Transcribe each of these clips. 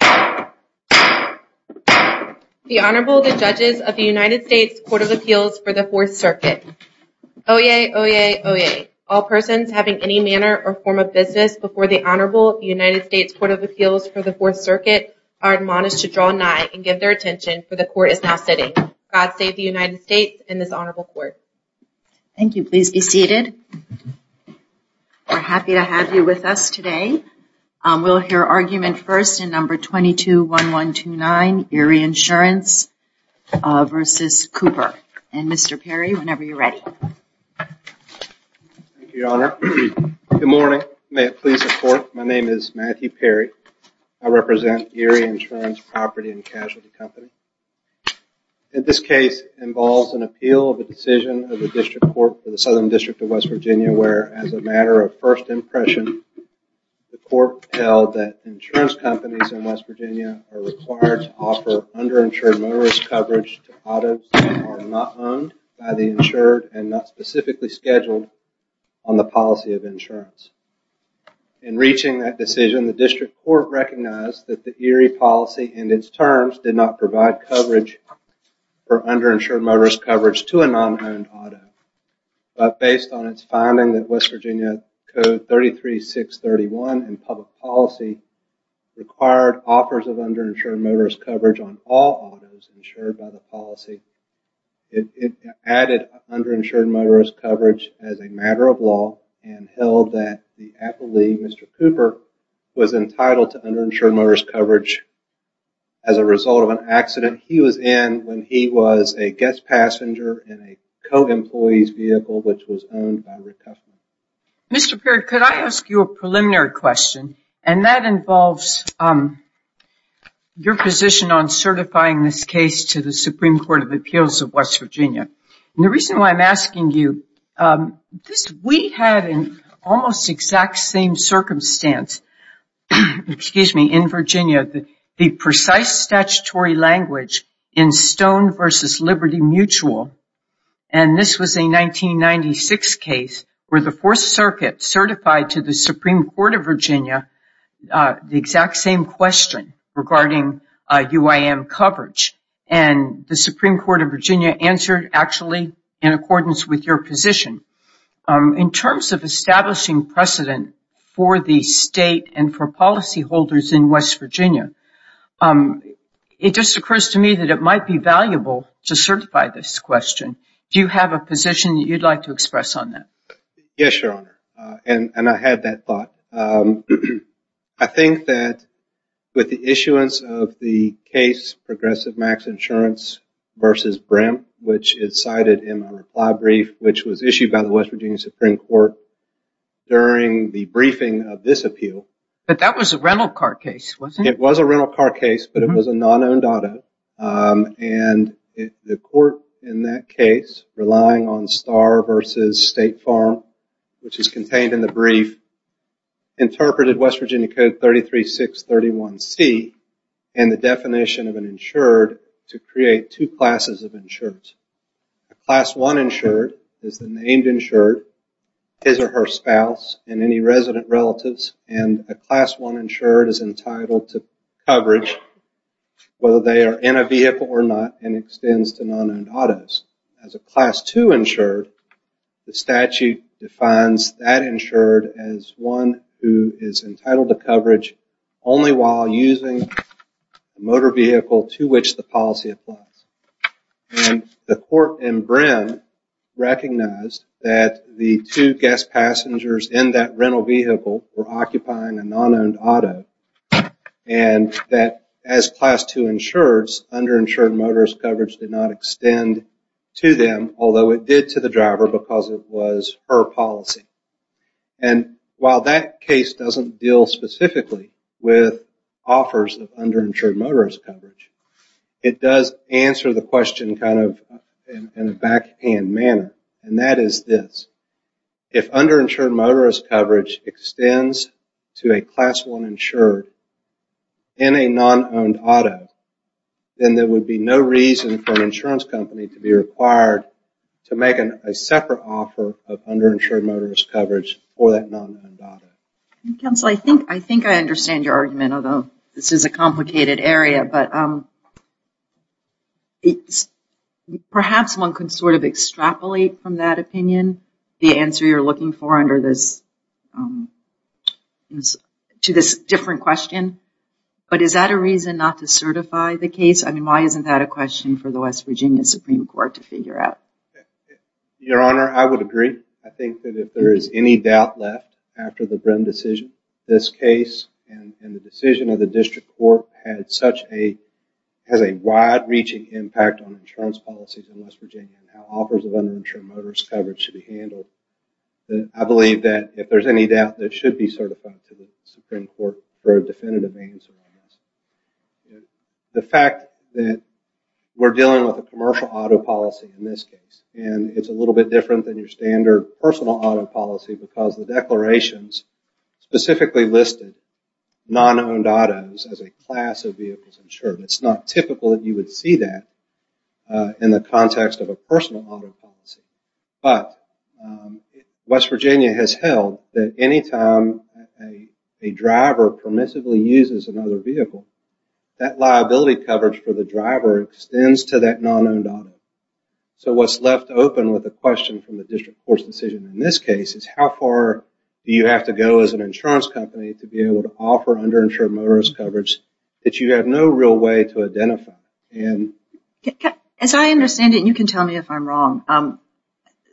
The Honorable, the Judges of the United States Court of Appeals for the Fourth Circuit. Oyez, oyez, oyez. All persons having any manner or form of business before the Honorable of the United States Court of Appeals for the Fourth Circuit are admonished to draw nigh and give their attention for the Court is now sitting. God save the United States and this Honorable Court. Thank you. Please be seated. We're happy to have you with us today. We'll hear argument first in number 221129, Erie Insurance v. Cooper. And Mr. Perry, whenever you're ready. Thank you, Your Honor. Good morning. May it please the Court, my name is Matthew Perry. I represent Erie Insurance Property & Casualty Company. This case involves an appeal of a decision of the District Court for the Southern District of West Virginia where, as a matter of first impression, the Court held that insurance companies in West Virginia are required to offer underinsured motorist coverage to autos that are not owned by the insured and not specifically scheduled on the policy of insurance. In reaching that decision, the District Court recognized that the Erie policy and its terms did not provide coverage for underinsured motorist coverage to a non-owned auto. But based on its finding that West Virginia Code 33631 in public policy required offers of underinsured motorist coverage on all autos insured by the policy, it added underinsured motorist coverage as a matter of law and held that the appellee, Mr. Cooper, was entitled to underinsured motorist coverage as a result of an accident he was in when he was a guest passenger in a co-employee's vehicle which was owned by Rick Cuffman. Mr. Perry, could I ask you a preliminary question? And that involves your position on certifying this case to the Supreme Court of Appeals of West Virginia. And the reason why I'm asking you, we had an almost exact same circumstance in Virginia, the precise statutory language in Stone v. Liberty Mutual, and this was a 1996 case where the Fourth Circuit certified to the Supreme Court of Virginia the exact same question regarding UIM coverage. And the Supreme Court of Virginia answered actually in accordance with your position. In terms of establishing precedent for the state and for policyholders in West Virginia, it just occurs to me that it might be valuable to certify this question. Do you have a position that you'd like to express on that? Yes, Your Honor, and I had that thought. I think that with the issuance of the case Progressive Max Insurance v. Brim, which is cited in my reply brief, which was issued by the West Virginia Supreme Court during the briefing of this appeal. But that was a rental car case, wasn't it? It was a rental car case, but it was a non-owned auto. And the court in that case, relying on Starr v. State Farm, which is contained in the brief, interpreted West Virginia Code 33631C and the definition of an insured to create two classes of insureds. A Class I insured is the named insured, his or her spouse and any resident relatives, and a Class I insured is entitled to coverage whether they are in a vehicle or not and extends to non-owned autos. As a Class II insured, the statute defines that insured as one who is entitled to coverage only while using a motor vehicle to which the policy applies. And the court in Brim recognized that the two guest passengers in that rental vehicle were occupying a non-owned auto and that as Class II insureds, underinsured motorist coverage did not extend to them, although it did to the driver because it was her policy. And while that case doesn't deal specifically with offers of underinsured motorist coverage, it does answer the question kind of in a backhand manner, and that is this. If underinsured motorist coverage extends to a Class I insured in a non-owned auto, then there would be no reason for an insurance company to be required to make a separate offer of underinsured motorist coverage for that non-owned auto. Counsel, I think I understand your argument, although this is a complicated area, but perhaps one can sort of extrapolate from that opinion the answer you're looking for under this to this different question. But is that a reason not to certify the case? I mean, why isn't that a question for the West Virginia Supreme Court to figure out? Your Honor, I would agree. I think that if there is any doubt left after the Brim decision, this case and the decision of the District Court has a wide-reaching impact on insurance policies in West Virginia and how offers of underinsured motorist coverage should be handled. I believe that if there's any doubt, it should be certified to the Supreme Court for a definitive answer on this. The fact that we're dealing with a commercial auto policy in this case and it's a little bit different than your standard personal auto policy because the declarations specifically listed non-owned autos as a class of vehicles insured. It's not typical that you would see that in the context of a personal auto policy. But West Virginia has held that any time a driver permissively uses another vehicle, that liability coverage for the driver extends to that non-owned auto. So what's left open with a question from the District Court's decision in this case is how far do you have to go as an insurance company to be able to offer underinsured motorist coverage that you have no real way to identify? As I understand it, and you can tell me if I'm wrong,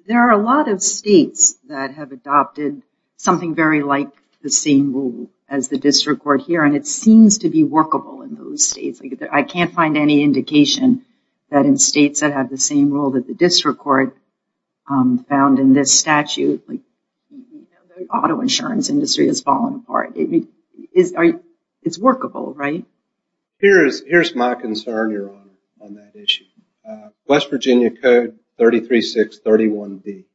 there are a lot of states that have adopted something very like the same rule as the District Court here and it seems to be workable in those states. I can't find any indication that in states that have the same rule that the District Court found in this statute, the auto insurance industry has fallen apart. It's workable, right? Here's my concern, Your Honor, on that issue. West Virginia Code 33631B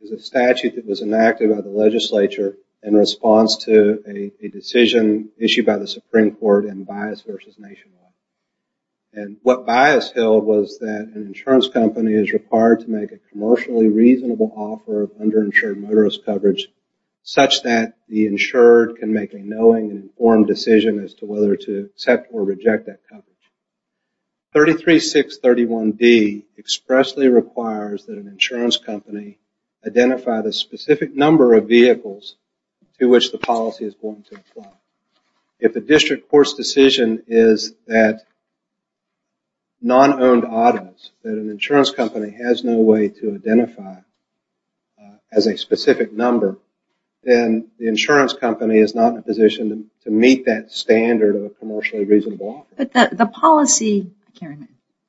is a statute that was enacted by the legislature in response to a decision issued by the Supreme Court in bias versus nationwide. And what bias held was that an insurance company is required to make a commercially reasonable offer of underinsured motorist coverage such that the insured can make a knowing and informed decision as to whether to accept or reject that coverage. 33631B expressly requires that an insurance company identify the specific number of vehicles to which the policy is going to apply. If the District Court's decision is that non-owned autos, that an insurance company has no way to identify as a specific number, then the insurance company is not in a position to meet that standard of a commercially reasonable offer. But the policy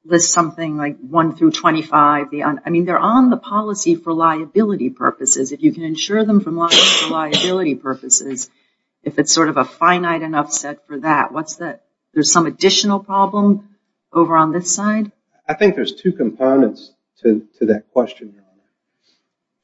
lists something like 1 through 25. I mean, they're on the policy for liability purposes. If you can insure them for liability purposes, if it's sort of a finite enough set for that, there's some additional problem over on this side? I think there's two components to that question, Your Honor.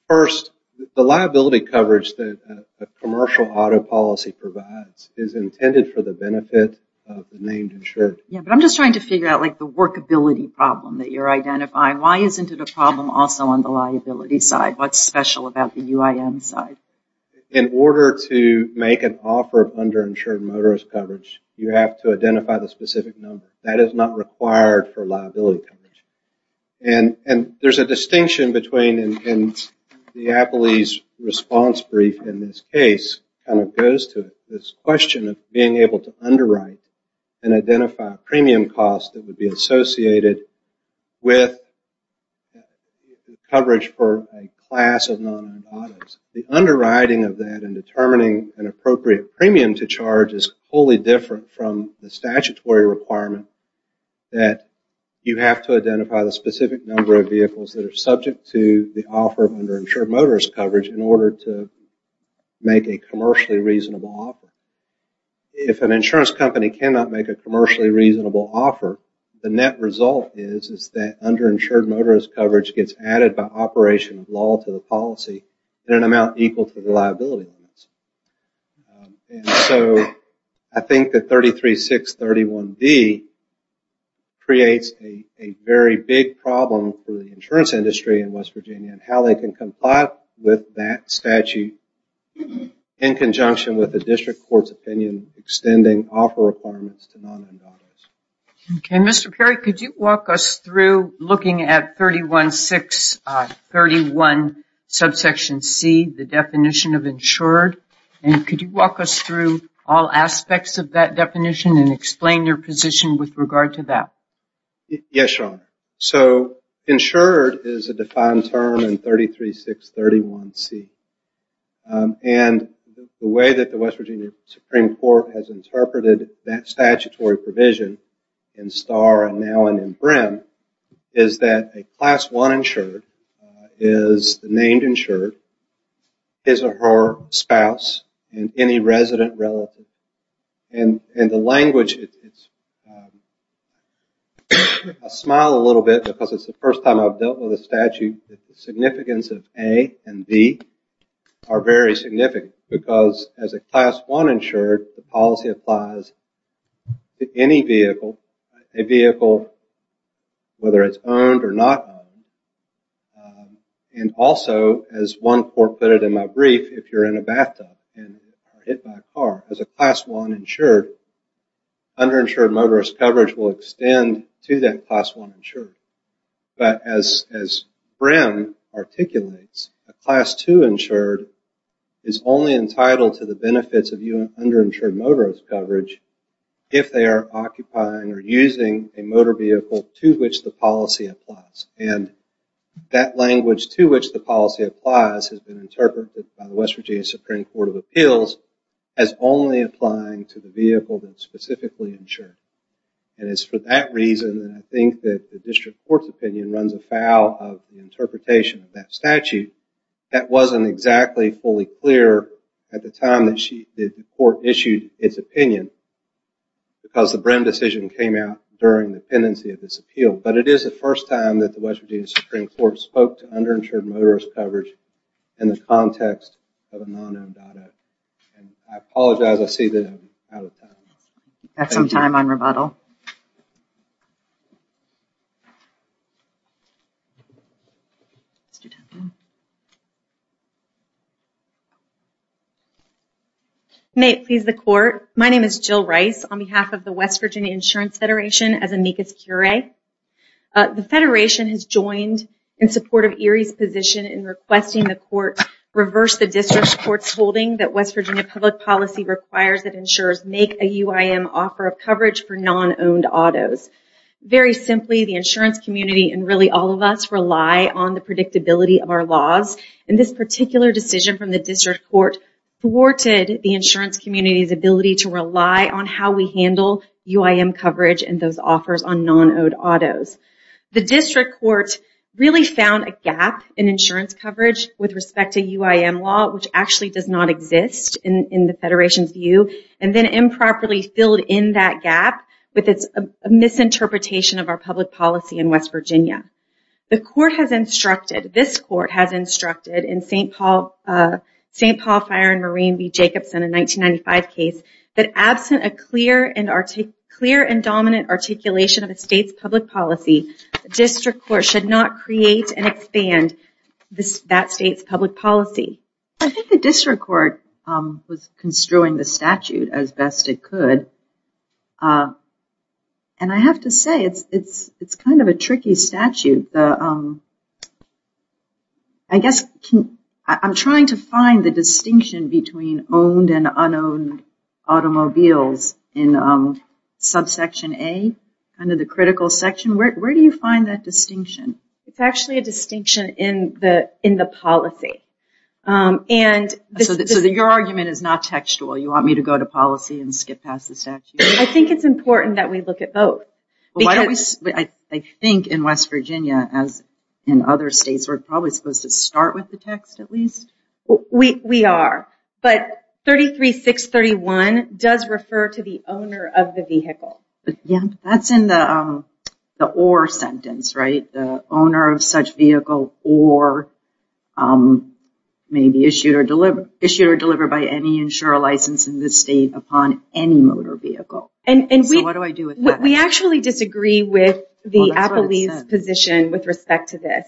First, the liability coverage that a commercial auto policy provides is intended for the benefit of the named insured. Yeah, but I'm just trying to figure out, like, the workability problem that you're identifying. Why isn't it a problem also on the liability side? What's special about the UIM side? In order to make an offer of underinsured motorist coverage, you have to identify the specific number. That is not required for liability coverage. And there's a distinction between, and Diaboli's response brief in this case kind of goes to it, this question of being able to underwrite and identify a premium cost that would be associated with coverage for a class of non-owned autos. The underwriting of that and determining an appropriate premium to charge is wholly different from the statutory requirement that you have to identify the specific number of vehicles that are subject to the offer of underinsured motorist coverage in order to make a commercially reasonable offer. If an insurance company cannot make a commercially reasonable offer, the net result is that underinsured motorist coverage gets added by operation of law to the policy in an amount equal to the liability limits. And so I think that 33631B creates a very big problem for the insurance industry in West Virginia and how they can comply with that statute in conjunction with the district court's opinion extending offer requirements to non-owned autos. Okay, Mr. Perry, could you walk us through looking at 31631 subsection C, the definition of insured, and could you walk us through all aspects of that definition and explain your position with regard to that? Yes, Your Honor. So insured is a defined term in 33631C. And the way that the West Virginia Supreme Court has interpreted that statutory provision in STAR and now in BRIM is that a class 1 insured is named insured, is a her spouse, and any resident relative. And the language is, I smile a little bit because it's the first time I've dealt with a statute that the significance of A and B are very significant because as a class 1 insured, the policy applies to any vehicle, a vehicle, whether it's owned or not owned. And also, as one court put it in my brief, if you're in a bathtub and are hit by a car, as a class 1 insured, underinsured motorist coverage will extend to that class 1 insured. But as BRIM articulates, a class 2 insured is only entitled to the benefits of underinsured motorist coverage if they are occupying or using a motor vehicle to which the policy applies. And that language, to which the policy applies, has been interpreted by the West Virginia Supreme Court of Appeals as only applying to the vehicle that's specifically insured. And it's for that reason that I think that the district court's opinion runs afoul of the interpretation of that statute that wasn't exactly fully clear at the time that the court issued its opinion because the BRIM decision came out during the pendency of this appeal. But it is the first time that the West Virginia Supreme Court spoke to underinsured motorist coverage in the context of a non-owned auto. And I apologize. I see that I'm out of time. Got some time on rebuttal. May it please the court, my name is Jill Rice, on behalf of the West Virginia Insurance Federation as amicus curiae. The federation has joined in support of Erie's position in requesting the court reverse the district court's holding that West Virginia public policy requires that insurers make a UIM offer of coverage for non-owned autos. Very simply, the insurance community, and really all of us, rely on the predictability of our laws. And this particular decision from the district court thwarted the insurance community's ability to rely on how we handle UIM coverage and those offers on non-owned autos. The district court really found a gap in insurance coverage with respect to UIM law, which actually does not exist in the federation's view, and then improperly filled in that gap with its misinterpretation of our public policy in West Virginia. The court has instructed, this court has instructed, in St. Paul Fire and Marine v. Jacobson in 1995 case, that absent a clear and dominant articulation of a state's public policy, the district court should not create and expand that state's public policy. I think the district court was construing the statute as best it could. And I have to say, it's kind of a tricky statute. I guess I'm trying to find the distinction between owned and unowned automobiles in subsection A, kind of the critical section. Where do you find that distinction? It's actually a distinction in the policy. So your argument is not textual? You want me to go to policy and skip past the statute? I think it's important that we look at both. I think in West Virginia, as in other states, we're probably supposed to start with the text at least. We are. But 33-631 does refer to the owner of the vehicle. That's in the or sentence, right? The owner of such vehicle or may be issued or delivered by any insurer license in this state upon any motor vehicle. So what do I do with that? We actually disagree with the appellee's position with respect to this.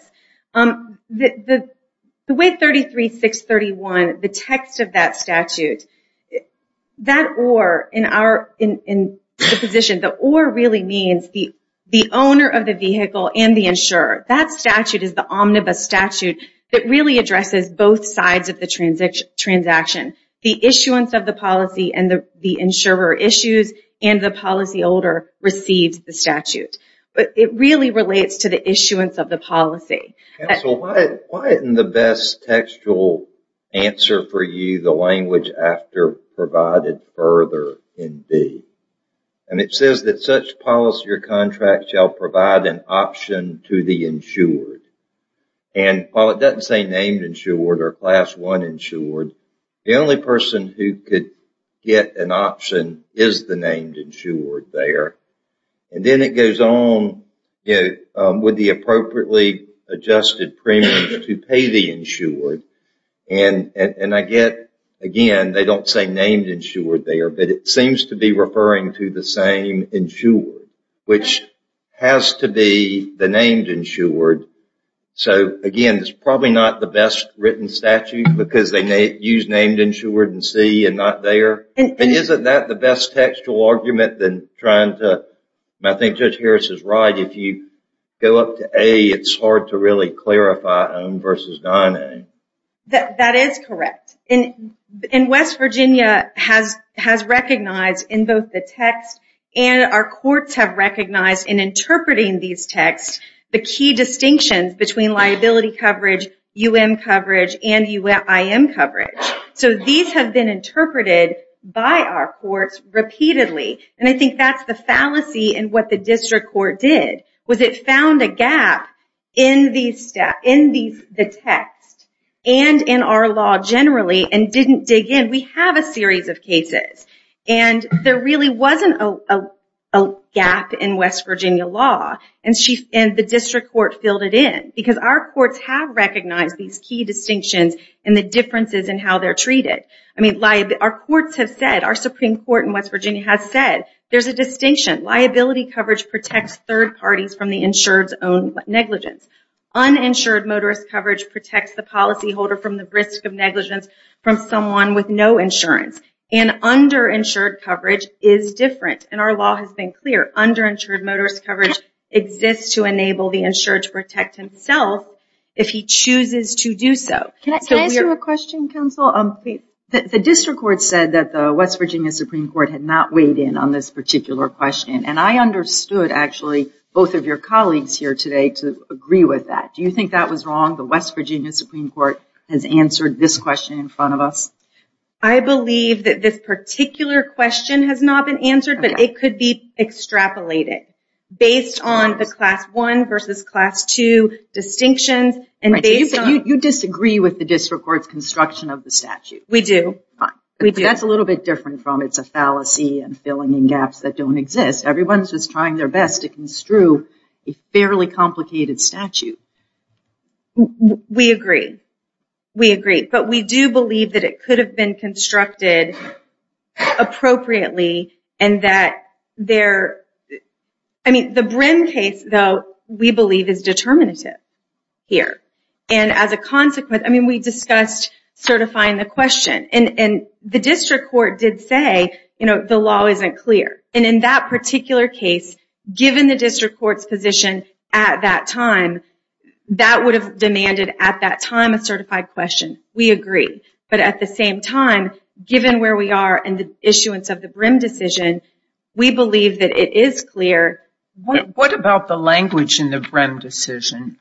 The way 33-631, the text of that statute, that or in our position, the or really means the owner of the vehicle and the insurer. That statute is the omnibus statute that really addresses both sides of the transaction. The issuance of the policy and the insurer issues and the policyholder receives the statute. But it really relates to the issuance of the policy. Counsel, why isn't the best textual answer for you the language after provided further in B? It says that such policy or contract shall provide an option to the insured. While it doesn't say named insured or class one insured, the only person who could get an option is the named insured there. And then it goes on with the appropriately adjusted premium to pay the insured. And I get, again, they don't say named insured there, but it seems to be referring to the same insured, which has to be the named insured. So, again, it's probably not the best written statute because they use named insured in C and not there. And isn't that the best textual argument than trying to... I think Judge Harris is right. If you go up to A, it's hard to really clarify on versus not A. That is correct. And West Virginia has recognized in both the text and our courts have recognized in interpreting these texts the key distinctions between liability coverage, UM coverage, and UIM coverage. So these have been interpreted by our courts repeatedly. And I think that's the fallacy in what the district court did, was it found a gap in the text and in our law generally and didn't dig in. We have a series of cases. And there really wasn't a gap in West Virginia law. And the district court filled it in because our courts have recognized these key distinctions and the differences in how they're treated. I mean, our courts have said, our Supreme Court in West Virginia has said, there's a distinction. Liability coverage protects third parties from the insured's own negligence. Uninsured motorist coverage protects the policyholder from the risk of negligence from someone with no insurance. And underinsured coverage is different. And our law has been clear. Underinsured motorist coverage exists to enable the insured to protect himself if he chooses to do so. Can I ask you a question, Counsel? The district court said that the West Virginia Supreme Court had not weighed in on this particular question. And I understood, actually, both of your colleagues here today to agree with that. Do you think that was wrong, the West Virginia Supreme Court has answered this question in front of us? I believe that this particular question has not been answered, but it could be extrapolated based on the Class I versus Class II distinctions. You disagree with the district court's construction of the statute. We do. But that's a little bit different from it's a fallacy and filling in gaps that don't exist. Everyone's just trying their best to construe a fairly complicated statute. We agree. We agree. But we do believe that it could have been constructed appropriately and that there, I mean, the Brim case, though, we believe is determinative here. And as a consequence, I mean, we discussed certifying the question. And the district court did say, you know, the law isn't clear. And in that particular case, given the district court's position at that time, that would have demanded at that time a certified question. We agree. But at the same time, given where we are in the issuance of the Brim decision, we believe that it is clear. What about the language in the Brim decision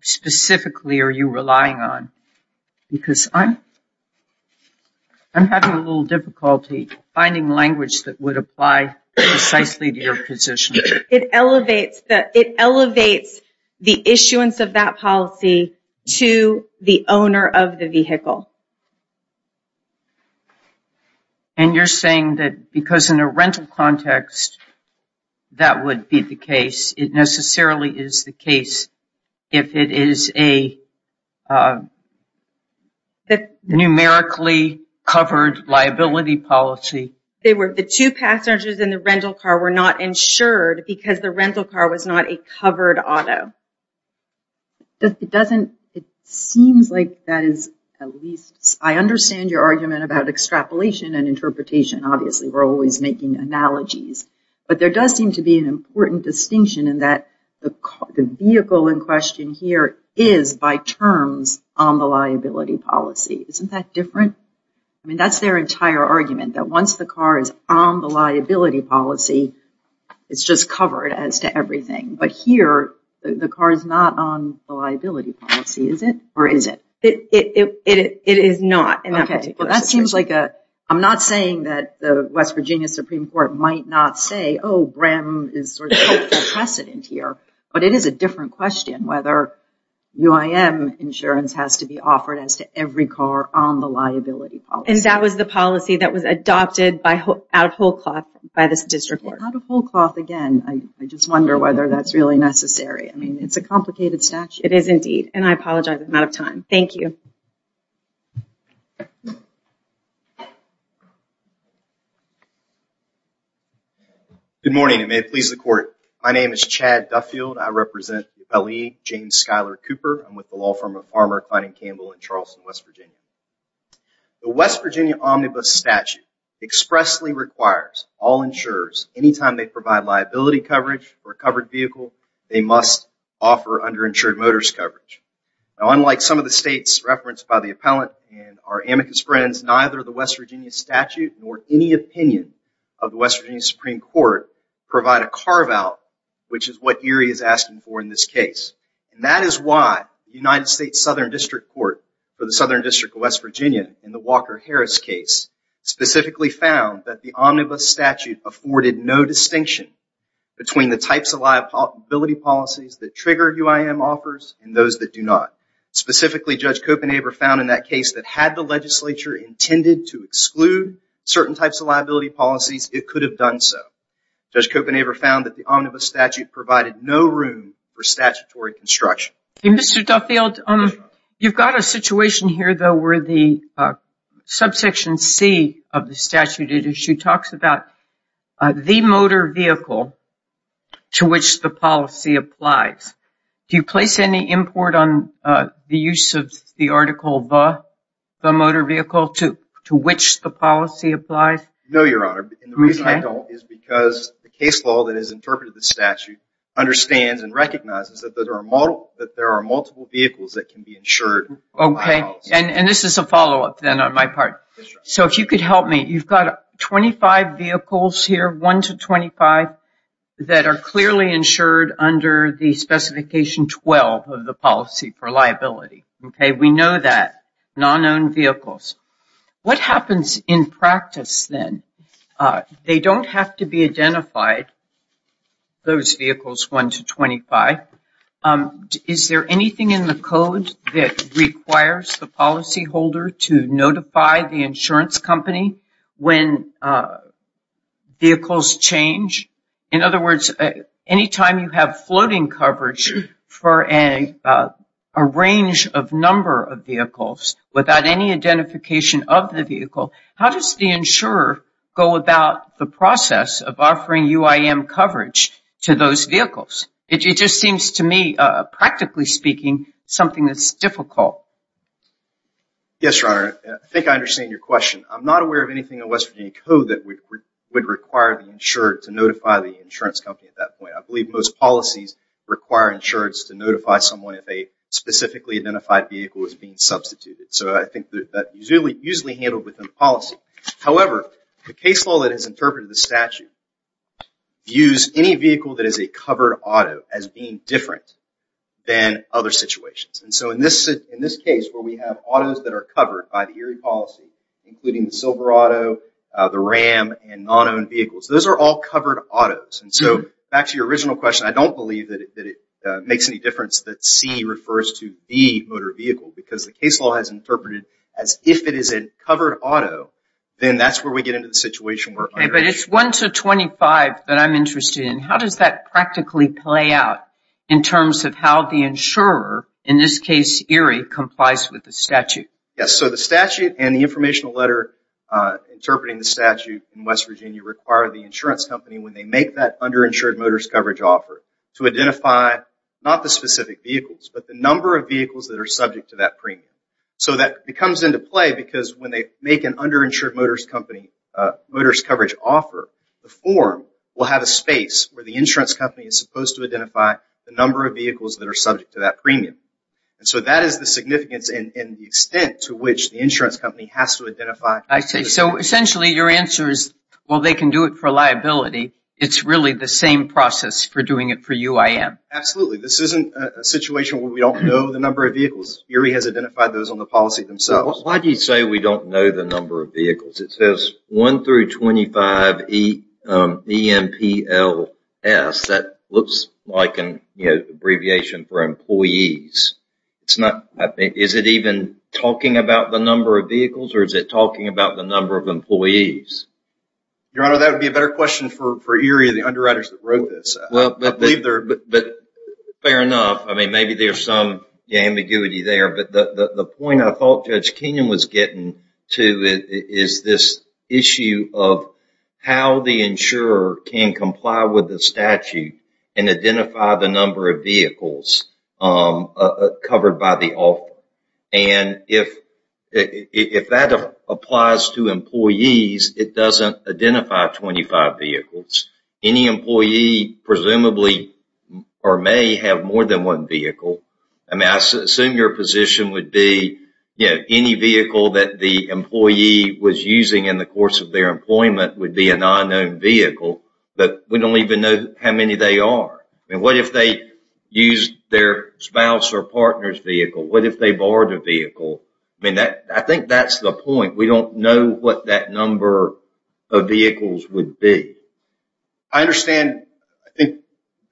specifically are you relying on? Because I'm having a little difficulty finding language that would apply precisely to your position. It elevates the issuance of that policy to the owner of the vehicle. And you're saying that because in a rental context, that would be the case. It necessarily is the case if it is a numerically covered liability policy. The two passengers in the rental car were not insured because the rental car was not a covered auto. It doesn't, it seems like that is at least, I understand your argument about extrapolation and interpretation. Obviously, we're always making analogies. But there does seem to be an important distinction in that the vehicle in question here is by terms on the liability policy. Isn't that different? I mean, that's their entire argument, that once the car is on the liability policy, it's just covered as to everything. But here, the car is not on the liability policy, is it? Or is it? It is not in that particular situation. Okay. Well, that seems like a, I'm not saying that the West Virginia Supreme Court might not say, oh, BREM is sort of a precedent here. But it is a different question whether UIM insurance has to be offered as to every car on the liability policy. And that was the policy that was adopted out of whole cloth by this district court. Out of whole cloth again. I just wonder whether that's really necessary. I mean, it's a complicated statute. It is, indeed. And I apologize, I'm out of time. Thank you. Good morning, and may it please the Court. My name is Chad Duffield. I represent Rep. E. James Schuyler Cooper. I'm with the law firm of Farmer, Kline & Campbell in Charleston, West Virginia. The West Virginia Omnibus Statute expressly requires all insurers, anytime they provide liability coverage for a covered vehicle, they must offer underinsured motorist coverage. Now, unlike some of the states referenced by the appellant and our amicus friends, neither the West Virginia statute nor any opinion of the West Virginia Supreme Court provide a carve-out, which is what Erie is asking for in this case. And that is why the United States Southern District Court for the Southern District of West Virginia in the Walker-Harris case specifically found that the omnibus statute afforded no distinction between the types of liability policies that trigger UIM offers and those that do not. Specifically, Judge Copenhaver found in that case that had the legislature intended to exclude certain types of liability policies, it could have done so. Judge Copenhaver found that the omnibus statute provided no room for statutory construction. Mr. Duffield, you've got a situation here, though, where the subsection C of the statute it issue talks about the motor vehicle to which the policy applies. Do you place any import on the use of the article the motor vehicle to which the policy applies? No, Your Honor. And the reason I don't is because the case law that is interpreted in the statute understands that can be insured by a policy. Okay. And this is a follow-up, then, on my part. So if you could help me. You've got 25 vehicles here, 1 to 25, that are clearly insured under the Specification 12 of the Policy for Liability. Okay. We know that. Non-owned vehicles. What happens in practice, then? They don't have to be identified, those vehicles 1 to 25. Is there anything in the code that requires the policyholder to notify the insurance company when vehicles change? In other words, anytime you have floating coverage for a range of number of vehicles without any identification of the vehicle, how does the insurer go about the process of offering UIM coverage to those vehicles? It just seems to me, practically speaking, something that's difficult. Yes, Your Honor. I think I understand your question. I'm not aware of anything in West Virginia code that would require the insured to notify the insurance company at that point. I believe most policies require insureds to notify someone if a specifically identified vehicle is being substituted. So I think that's usually handled within the policy. However, the case law that is interpreted in the statute views any vehicle that is a covered auto as being different than other situations. And so in this case, where we have autos that are covered by the Erie policy, including the Silver Auto, the Ram, and non-owned vehicles, those are all covered autos. And so back to your original question, I don't believe that it makes any difference that C refers to the motor vehicle because the case law has interpreted as if it is a covered auto, then that's where we get into the situation But it's 1 to 25 that I'm interested in. How does that practically play out in terms of how the insurer, in this case Erie, complies with the statute? Yes, so the statute and the informational letter interpreting the statute in West Virginia require the insurance company, when they make that underinsured motorist coverage offer, to identify not the specific vehicles, but the number of vehicles that are subject to that premium. So that comes into play because when they make an underinsured motorist coverage offer, the form will have a space where the insurance company is supposed to identify the number of vehicles that are subject to that premium. And so that is the significance and the extent to which the insurance company has to identify... I see, so essentially your answer is, well, they can do it for liability. It's really the same process for doing it for UIM. Absolutely. This isn't a situation where we don't know the number of vehicles. Erie has identified those on the policy themselves. Why do you say we don't know the number of vehicles? It says 1 through 25 EMPLS. That looks like an abbreviation for employees. Is it even talking about the number of vehicles or is it talking about the number of employees? Your Honor, that would be a better question for Erie and the underwriters that wrote this. Fair enough. I mean, maybe there's some ambiguity there, but the point I thought Judge Kenyon was getting to is this issue of how the insurer can comply with the statute and identify the number of vehicles covered by the offer. And if that applies to employees, it doesn't identify 25 vehicles. Any employee presumably or may have more than one vehicle. I mean, I assume your position would be any vehicle that the employee was using in the course of their employment would be a non-owned vehicle, but we don't even know how many they are. I mean, what if they used their spouse or partner's vehicle? What if they borrowed a vehicle? I mean, I think that's the point. We don't know what that number of vehicles would be. I understand, I think,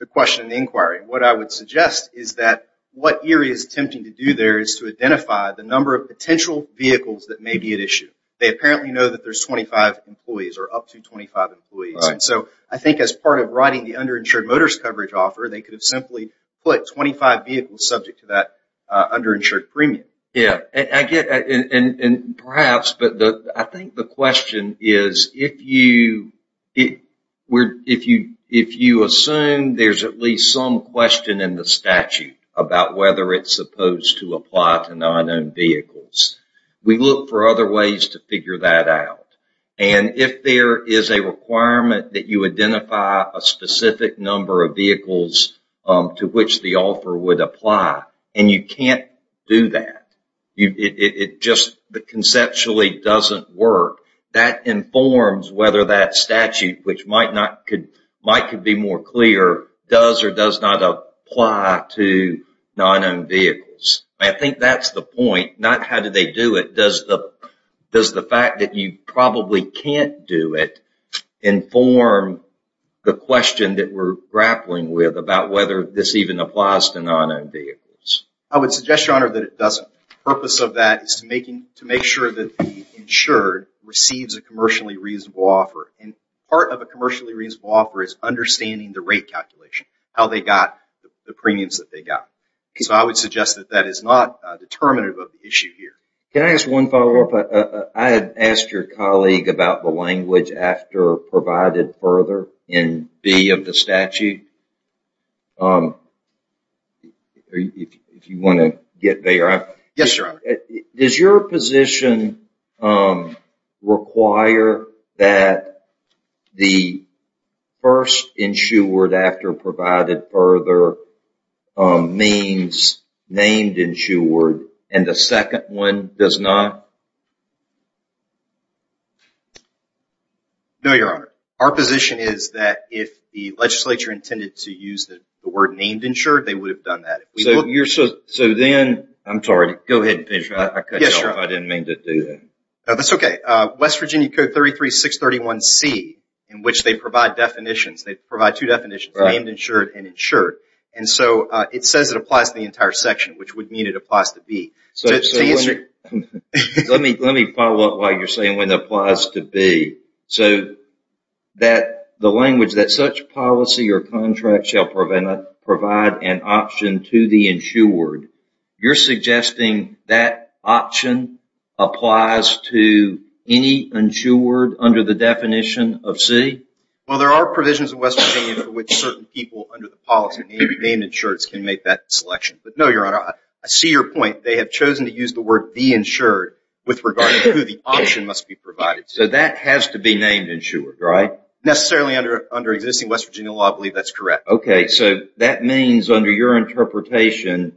the question in the inquiry. What I would suggest is that what Erie is attempting to do there is to identify the number of potential vehicles that may be at issue. They apparently know that there's 25 employees or up to 25 employees. So I think as part of writing the underinsured motorist coverage offer, they could have simply put 25 vehicles subject to that underinsured premium. Yeah, and perhaps, but I think the question is if you assume there's at least some question in the statute about whether it's supposed to apply to non-owned vehicles, we look for other ways to figure that out. And if there is a requirement that you identify a specific number of vehicles to which the offer would apply, and you can't do that, it just conceptually doesn't work, that informs whether that statute, which might be more clear, does or does not apply to non-owned vehicles. I think that's the point, not how do they do it, does the fact that you probably can't do it inform the question that we're grappling with about whether this even applies to non-owned vehicles. I would suggest, Your Honor, that it doesn't. The purpose of that is to make sure that the insured receives a commercially reasonable offer. And part of a commercially reasonable offer is understanding the rate calculation, how they got the premiums that they got. So I would suggest that that is not determinative of the issue here. Can I ask one follow-up? I had asked your colleague about the language after provided further in B of the statute. If you want to get there. Yes, Your Honor. Does your position require that the first insured after provided further means named insured, and the second one does not? No, Your Honor. Our position is that if the legislature intended to use the word named insured, they would have done that. I'm sorry, go ahead and finish. I didn't mean to do that. That's okay. West Virginia Code 33631C, in which they provide definitions, they provide two definitions, named insured and insured. And so it says it applies to the entire section, which would mean it applies to B. Let me follow up on what you're saying when it applies to B. So the language that such policy or contract shall provide an option to the insured, you're suggesting that option applies to any insured under the definition of C? Well, there are provisions in West Virginia for which certain people under the policy, named insured, can make that selection. But no, Your Honor, I see your point. They have chosen to use the word the insured with regard to who the option must be provided to. So that has to be named insured, right? Necessarily under existing West Virginia law, I believe that's correct. Okay. So that means under your interpretation,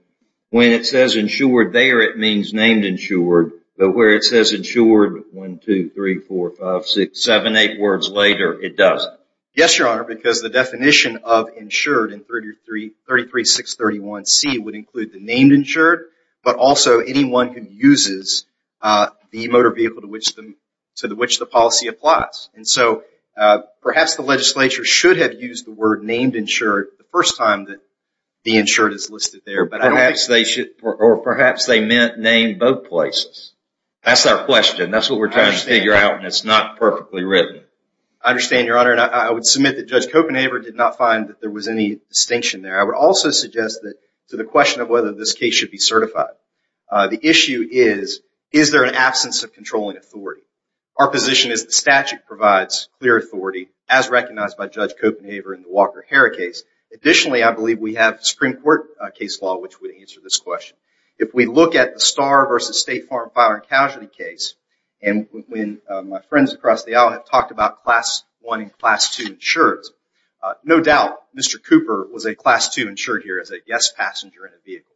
when it says insured there, it means named insured. But where it says insured one, two, three, four, five, six, seven, eight words later, it doesn't. Yes, Your Honor, because the definition of insured in 33631C would include the named insured, but also anyone who uses the motor vehicle to which the policy applies. And so perhaps the legislature should have used the word named insured the first time that the insured is listed there. Or perhaps they meant named both places. That's our question. That's what we're trying to figure out, and it's not perfectly written. I understand, Your Honor, and I would submit that Judge Copenhaver did not find that there was any distinction there. I would also suggest that to the question of whether this case should be certified, the issue is, is there an absence of controlling authority? Our position is the statute provides clear authority, as recognized by Judge Copenhaver in the Walker-Hare case. Additionally, I believe we have Supreme Court case law which would answer this question. If we look at the Starr v. State Farm Fire and Casualty case, and when my friends across the aisle have talked about Class I and Class II insurance, no doubt Mr. Cooper was a Class II insured here as a guest passenger in a vehicle.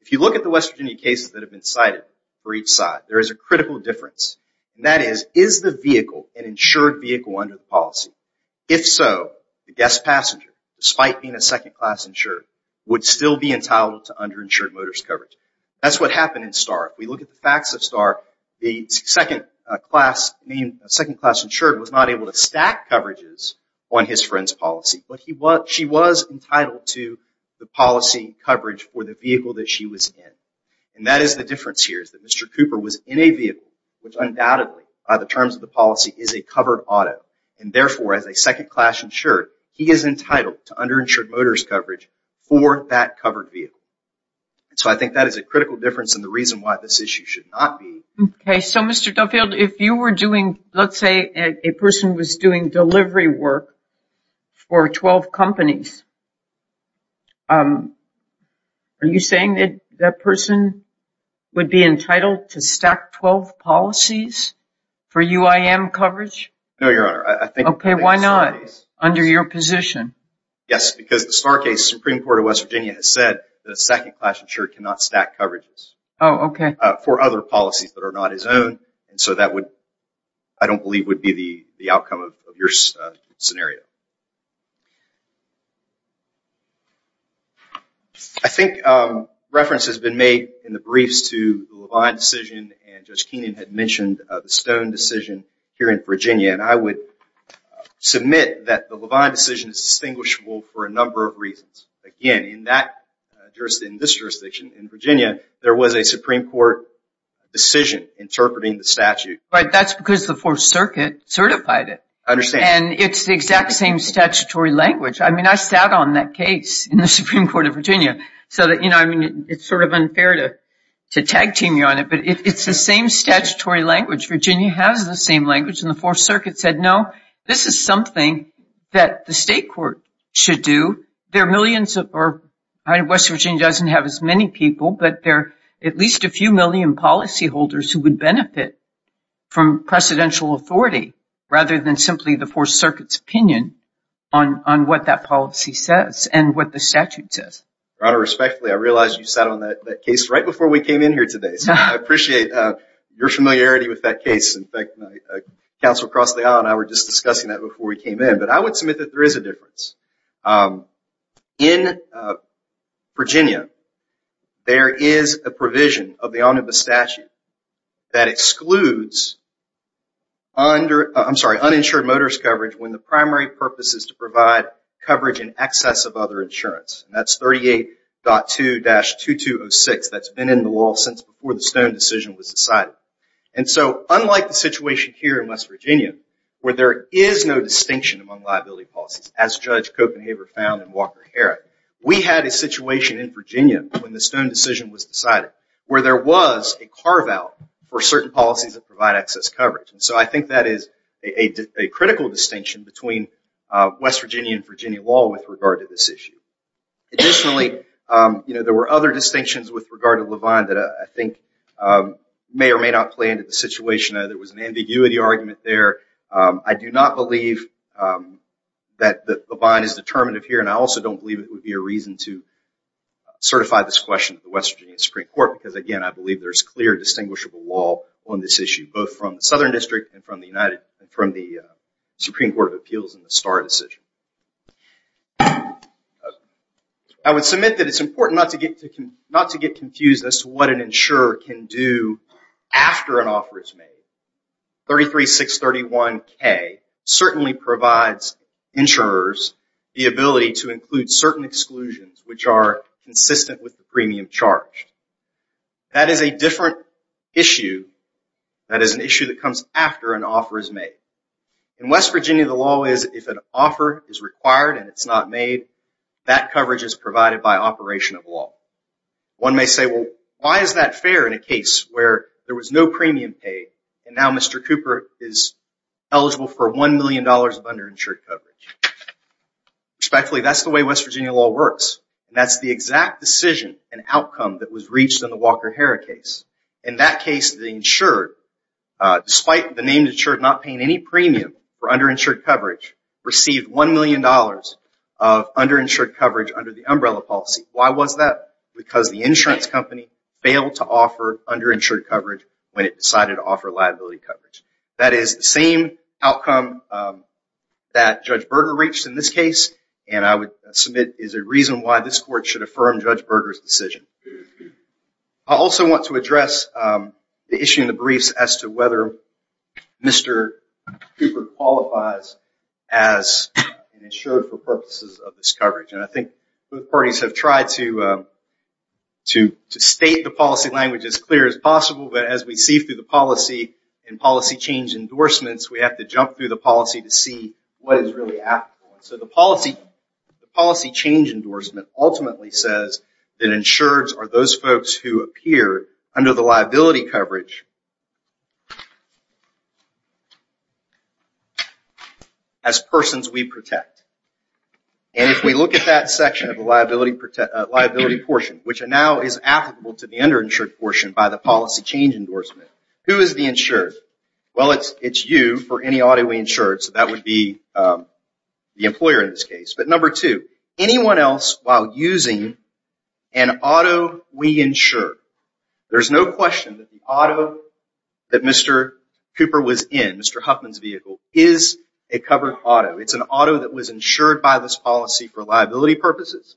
If you look at the West Virginia cases that have been cited for each side, there is a critical difference. And that is, is the vehicle an insured vehicle under the policy? If so, the guest passenger, despite being a Second Class insured, would still be entitled to underinsured motorist coverage. That's what happened in Starr. If we look at the facts of Starr, the Second Class insured was not able to stack coverages on his friend's policy, but she was entitled to the policy coverage for the vehicle that she was in. And that is the difference here, is that Mr. Cooper was in a vehicle, which undoubtedly, by the terms of the policy, is a covered auto. And therefore, as a Second Class insured, he is entitled to underinsured motorist coverage for that covered vehicle. So I think that is a critical difference and the reason why this issue should not be... Okay, so Mr. Duffield, if you were doing, let's say a person was doing delivery work for 12 companies, are you saying that that person would be entitled to stack 12 policies for UIM coverage? No, Your Honor, I think... Okay, why not, under your position? Yes, because the Starr case, Supreme Court of West Virginia has said that a Second Class insured cannot stack coverages... Oh, okay. ...for other policies that are not his own. And so that would, I don't believe, would be the outcome of your scenario. I think reference has been made in the briefs to the Levine decision and Judge Keenan had mentioned the Stone decision here in Virginia. And I would submit that the Levine decision is distinguishable for a number of reasons. Again, in this jurisdiction, in Virginia, there was a Supreme Court decision interpreting the statute. Right, that's because the Fourth Circuit certified it. I understand. And it's the exact same statutory language. I mean, I sat on that case in the Supreme Court of Virginia. So, you know, it's sort of unfair to tag team you on it, but it's the same statutory language. Virginia has the same language, and the Fourth Circuit said, no, this is something that the state court should do. There are millions of, or West Virginia doesn't have as many people, but there are at least a few million policyholders who would benefit from precedential authority rather than simply the Fourth Circuit's opinion on what that policy says and what the statute says. Your Honor, respectfully, I realize you sat on that case right before we came in here today. So I appreciate your familiarity with that case. In fact, Counsel Crosley and I were just discussing that before we came in. But I would submit that there is a difference. In Virginia, there is a provision of the omnibus statute that excludes uninsured motorist coverage when the primary purpose is to provide coverage in excess of other insurance. That's 38.2-2206. That's been in the law since before the Stone decision was decided. And so unlike the situation here in West Virginia where there is no distinction among liability policies, as Judge Copenhaver found in Walker-Herrick, we had a situation in Virginia when the Stone decision was decided where there was a carve-out for certain policies that provide excess coverage. And so I think that is a critical distinction between West Virginia and Virginia law with regard to this issue. Additionally, there were other distinctions with regard to Levine that I think may or may not play into the situation. There was an ambiguity argument there. I do not believe that Levine is determinative here, and I also don't believe it would be a reason to certify this question to the West Virginia Supreme Court because, again, I believe there's clear, distinguishable law on this issue, both from the Southern District and from the Supreme Court of Appeals in the Starr decision. I would submit that it's important not to get confused as to what an insurer can do after an offer is made. 33-631-K certainly provides insurers the ability to include certain exclusions which are consistent with the premium charged. That is a different issue. That is an issue that comes after an offer is made. In West Virginia, the law is if an offer is required and it's not made, that coverage is provided by operation of law. One may say, well, why is that fair in a case where there was no premium paid and now Mr. Cooper is eligible for $1 million of underinsured coverage? Respectfully, that's the way West Virginia law works, and that's the exact decision and outcome that was reached in the Walker-Hara case. In that case, the insured, despite the name insured not paying any premium for underinsured coverage, received $1 million of underinsured coverage under the umbrella policy. Why was that? Because the insurance company failed to offer underinsured coverage when it decided to offer liability coverage. That is the same outcome that Judge Berger reached in this case, and I would submit is a reason why this court should affirm Judge Berger's decision. I also want to address the issue in the briefs as to whether Mr. Cooper qualifies as insured for purposes of this coverage. I think both parties have tried to state the policy language as clear as possible, but as we see through the policy and policy change endorsements, we have to jump through the policy to see what is really applicable. So the policy change endorsement ultimately says that insureds are those folks who appear under the liability coverage as persons we protect. And if we look at that section of the liability portion, which now is applicable to the underinsured portion by the policy change endorsement, who is the insured? Well, it's you for any auto we insure, so that would be the employer in this case. But number two, anyone else while using an auto we insure, there's no question that the auto that Mr. Cooper was in, Mr. Huffman's vehicle, is a covered auto. It's an auto that was insured by this policy for liability purposes.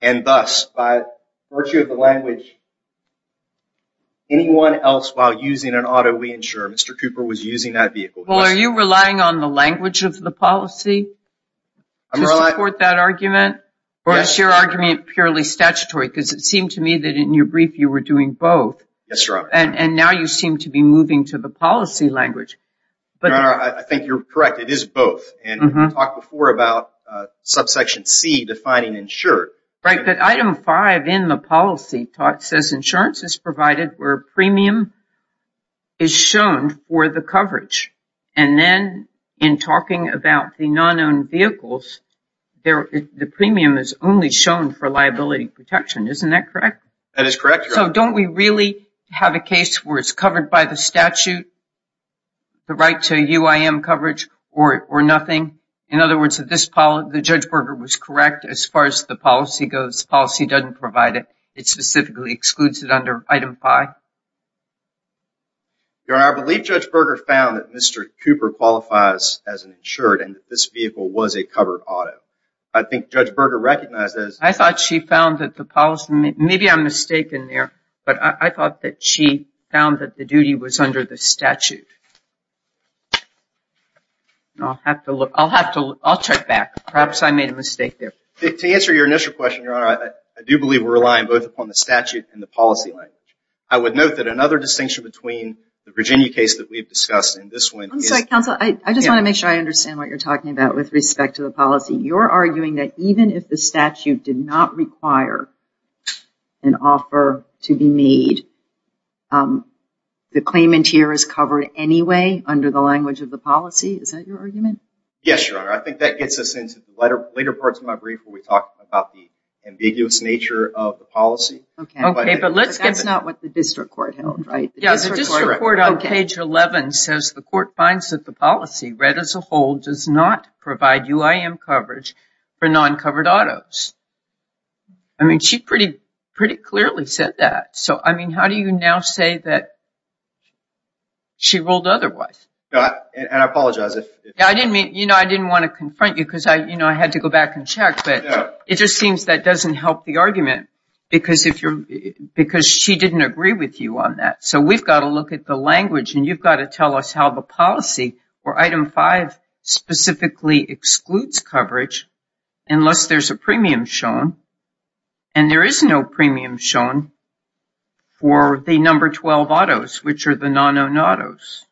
And thus, by virtue of the language, anyone else while using an auto we insure, Mr. Cooper was using that vehicle. Well, are you relying on the language of the policy to support that argument? Or is your argument purely statutory? Because it seemed to me that in your brief you were doing both. Yes, Your Honor. And now you seem to be moving to the policy language. Your Honor, I think you're correct. It is both. And we talked before about subsection C defining insured. Right. But item five in the policy talk says insurance is provided where premium is shown for the coverage. And then in talking about the non-owned vehicles, the premium is only shown for liability protection. That is correct, Your Honor. So don't we really have a case where it's covered by the statute, the right to UIM coverage, or nothing? In other words, the Judge Berger was correct as far as the policy goes. The policy doesn't provide it. It specifically excludes it under item five. Your Honor, I believe Judge Berger found that Mr. Cooper qualifies as an insured and that this vehicle was a covered auto. I think Judge Berger recognized this. I thought she found that the policy – maybe I'm mistaken there. But I thought that she found that the duty was under the statute. I'll have to look. I'll check back. Perhaps I made a mistake there. To answer your initial question, Your Honor, I do believe we're relying both upon the statute and the policy language. I would note that another distinction between the Virginia case that we've discussed and this one is – I'm sorry, counsel. I just want to make sure I understand what you're talking about with respect to the policy. You're arguing that even if the statute did not require an offer to be made, the claimant here is covered anyway under the language of the policy? Is that your argument? Yes, Your Honor. I think that gets us into later parts of my brief where we talk about the ambiguous nature of the policy. Okay. But that's not what the district court held, right? Yeah, the district court on page 11 says the court finds that the policy read as a whole does not provide UIM coverage for non-covered autos. I mean, she pretty clearly said that. So, I mean, how do you now say that she ruled otherwise? And I apologize if – I didn't mean – you know, I didn't want to confront you because, you know, I had to go back and check. But it just seems that doesn't help the argument because she didn't agree with you on that. So we've got to look at the language and you've got to tell us how the policy or item 5 specifically excludes coverage unless there's a premium shown. And there is no premium shown for the number 12 autos, which are the non-owned autos,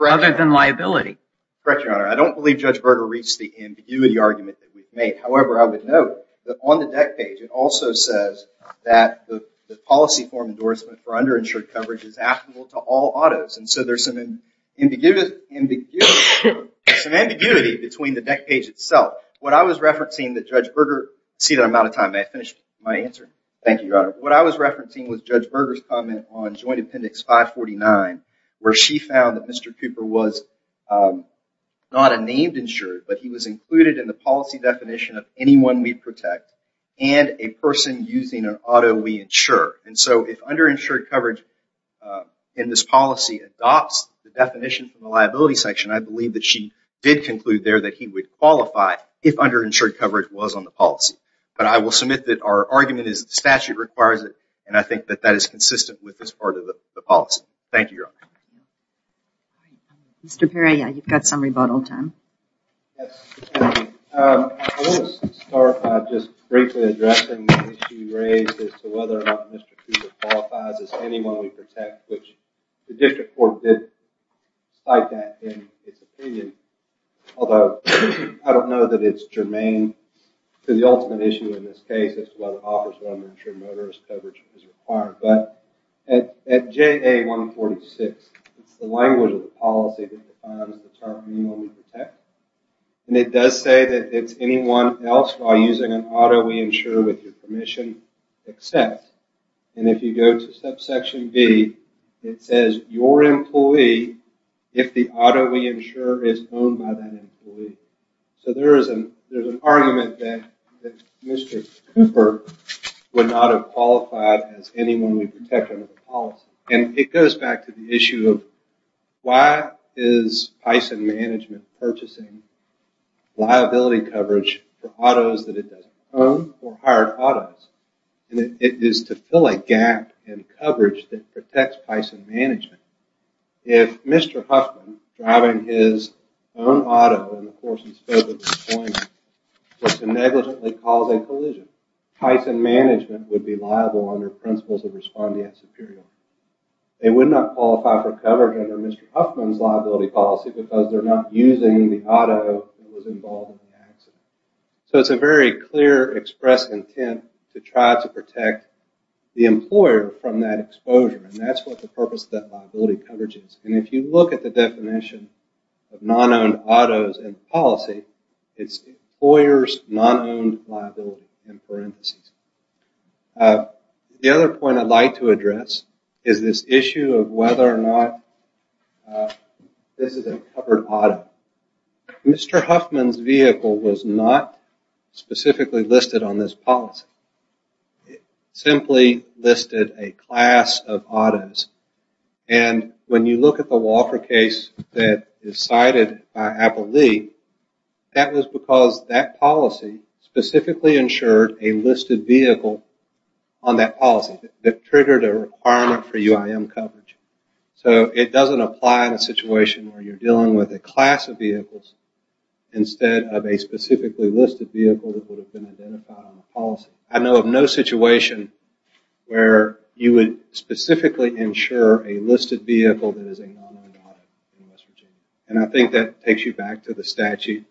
other than liability. Correct, Your Honor. I don't believe Judge Berger reached the ambiguity argument that we've made. However, I would note that on the deck page it also says that the policy form endorsement for underinsured coverage is applicable to all autos. And so there's some ambiguity between the deck page itself. What I was referencing that Judge Berger – see that I'm out of time. May I finish my answer? Thank you, Your Honor. What I was referencing was Judge Berger's comment on Joint Appendix 549 where she found that Mr. Cooper was not a named insured, but he was included in the policy definition of anyone we protect and a person using an auto we insure. And so if underinsured coverage in this policy adopts the definition from the liability section, I believe that she did conclude there that he would qualify if underinsured coverage was on the policy. But I will submit that our argument is that the statute requires it, and I think that that is consistent with this part of the policy. Thank you, Your Honor. Mr. Perry, you've got some rebuttal time. Yes, thank you. I want to start by just briefly addressing the issue raised as to whether or not Mr. Cooper qualifies as anyone we protect, which the district court did cite that in its opinion, although I don't know that it's germane to the ultimate issue in this case as to whether it offers what underinsured motorist coverage is required. But at JA-146, it's the language of the policy that defines the term anyone we protect, and it does say that it's anyone else while using an auto we insure with your permission except. And if you go to subsection B, it says your employee if the auto we insure is owned by that employee. So there is an argument that Mr. Cooper would not have qualified as anyone we protect under the policy. And it goes back to the issue of why is Pison Management purchasing liability coverage for autos that it doesn't own or hire autos? And it is to fill a gap in coverage that protects Pison Management. If Mr. Huffman driving his own auto in the course of his COVID deployment was to negligently cause a collision, Pison Management would be liable under principles of respondeat superiority. They would not qualify for coverage under Mr. Huffman's liability policy because they're not using the auto that was involved in the accident. So it's a very clear express intent to try to protect the employer from that exposure, and that's what the purpose of that liability coverage is. And if you look at the definition of non-owned autos in policy, it's employers non-owned liability in parentheses. The other point I'd like to address is this issue of whether or not this is a covered auto. Mr. Huffman's vehicle was not specifically listed on this policy. It simply listed a class of autos. And when you look at the Walker case that is cited by Apple Lee, that was because that policy specifically insured a listed vehicle on that policy that triggered a requirement for UIM coverage. So it doesn't apply in a situation where you're dealing with a class of vehicles instead of a specifically listed vehicle that would have been identified on the policy. I know of no situation where you would specifically insure a listed vehicle that is a non-owned auto in West Virginia. And I think that takes you back to the statute.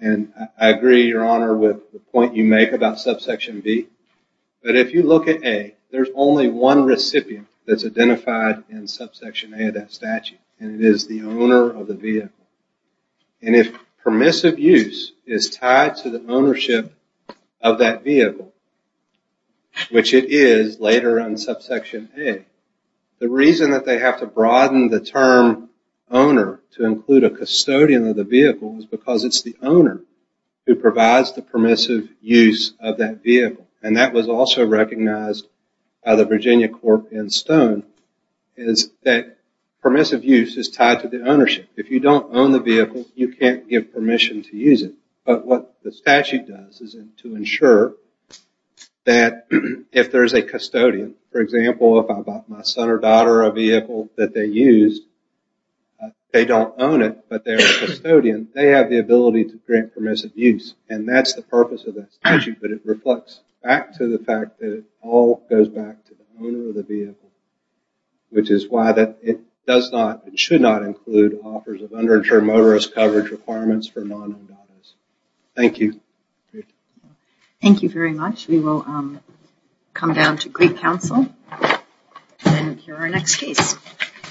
And I agree, Your Honor, with the point you make about subsection B. But if you look at A, there's only one recipient that's identified in subsection A of that statute, and it is the owner of the vehicle. And if permissive use is tied to the ownership of that vehicle, which it is later in subsection A, the reason that they have to broaden the term owner to include a custodian of the vehicle is because it's the owner who provides the permissive use of that vehicle. And that was also recognized by the Virginia Corp in Stone, is that permissive use is tied to the ownership. If you don't own the vehicle, you can't give permission to use it. But what the statute does is to ensure that if there's a custodian, for example, if I bought my son or daughter a vehicle that they used, they don't own it, but they're a custodian, they have the ability to grant permissive use. And that's the purpose of that statute, but it reflects back to the fact that it all goes back to the owner of the vehicle, which is why it should not include offers of underinsured motorist coverage requirements for non-endowments. Thank you. Thank you very much. We will come down to Greek Council and hear our next case.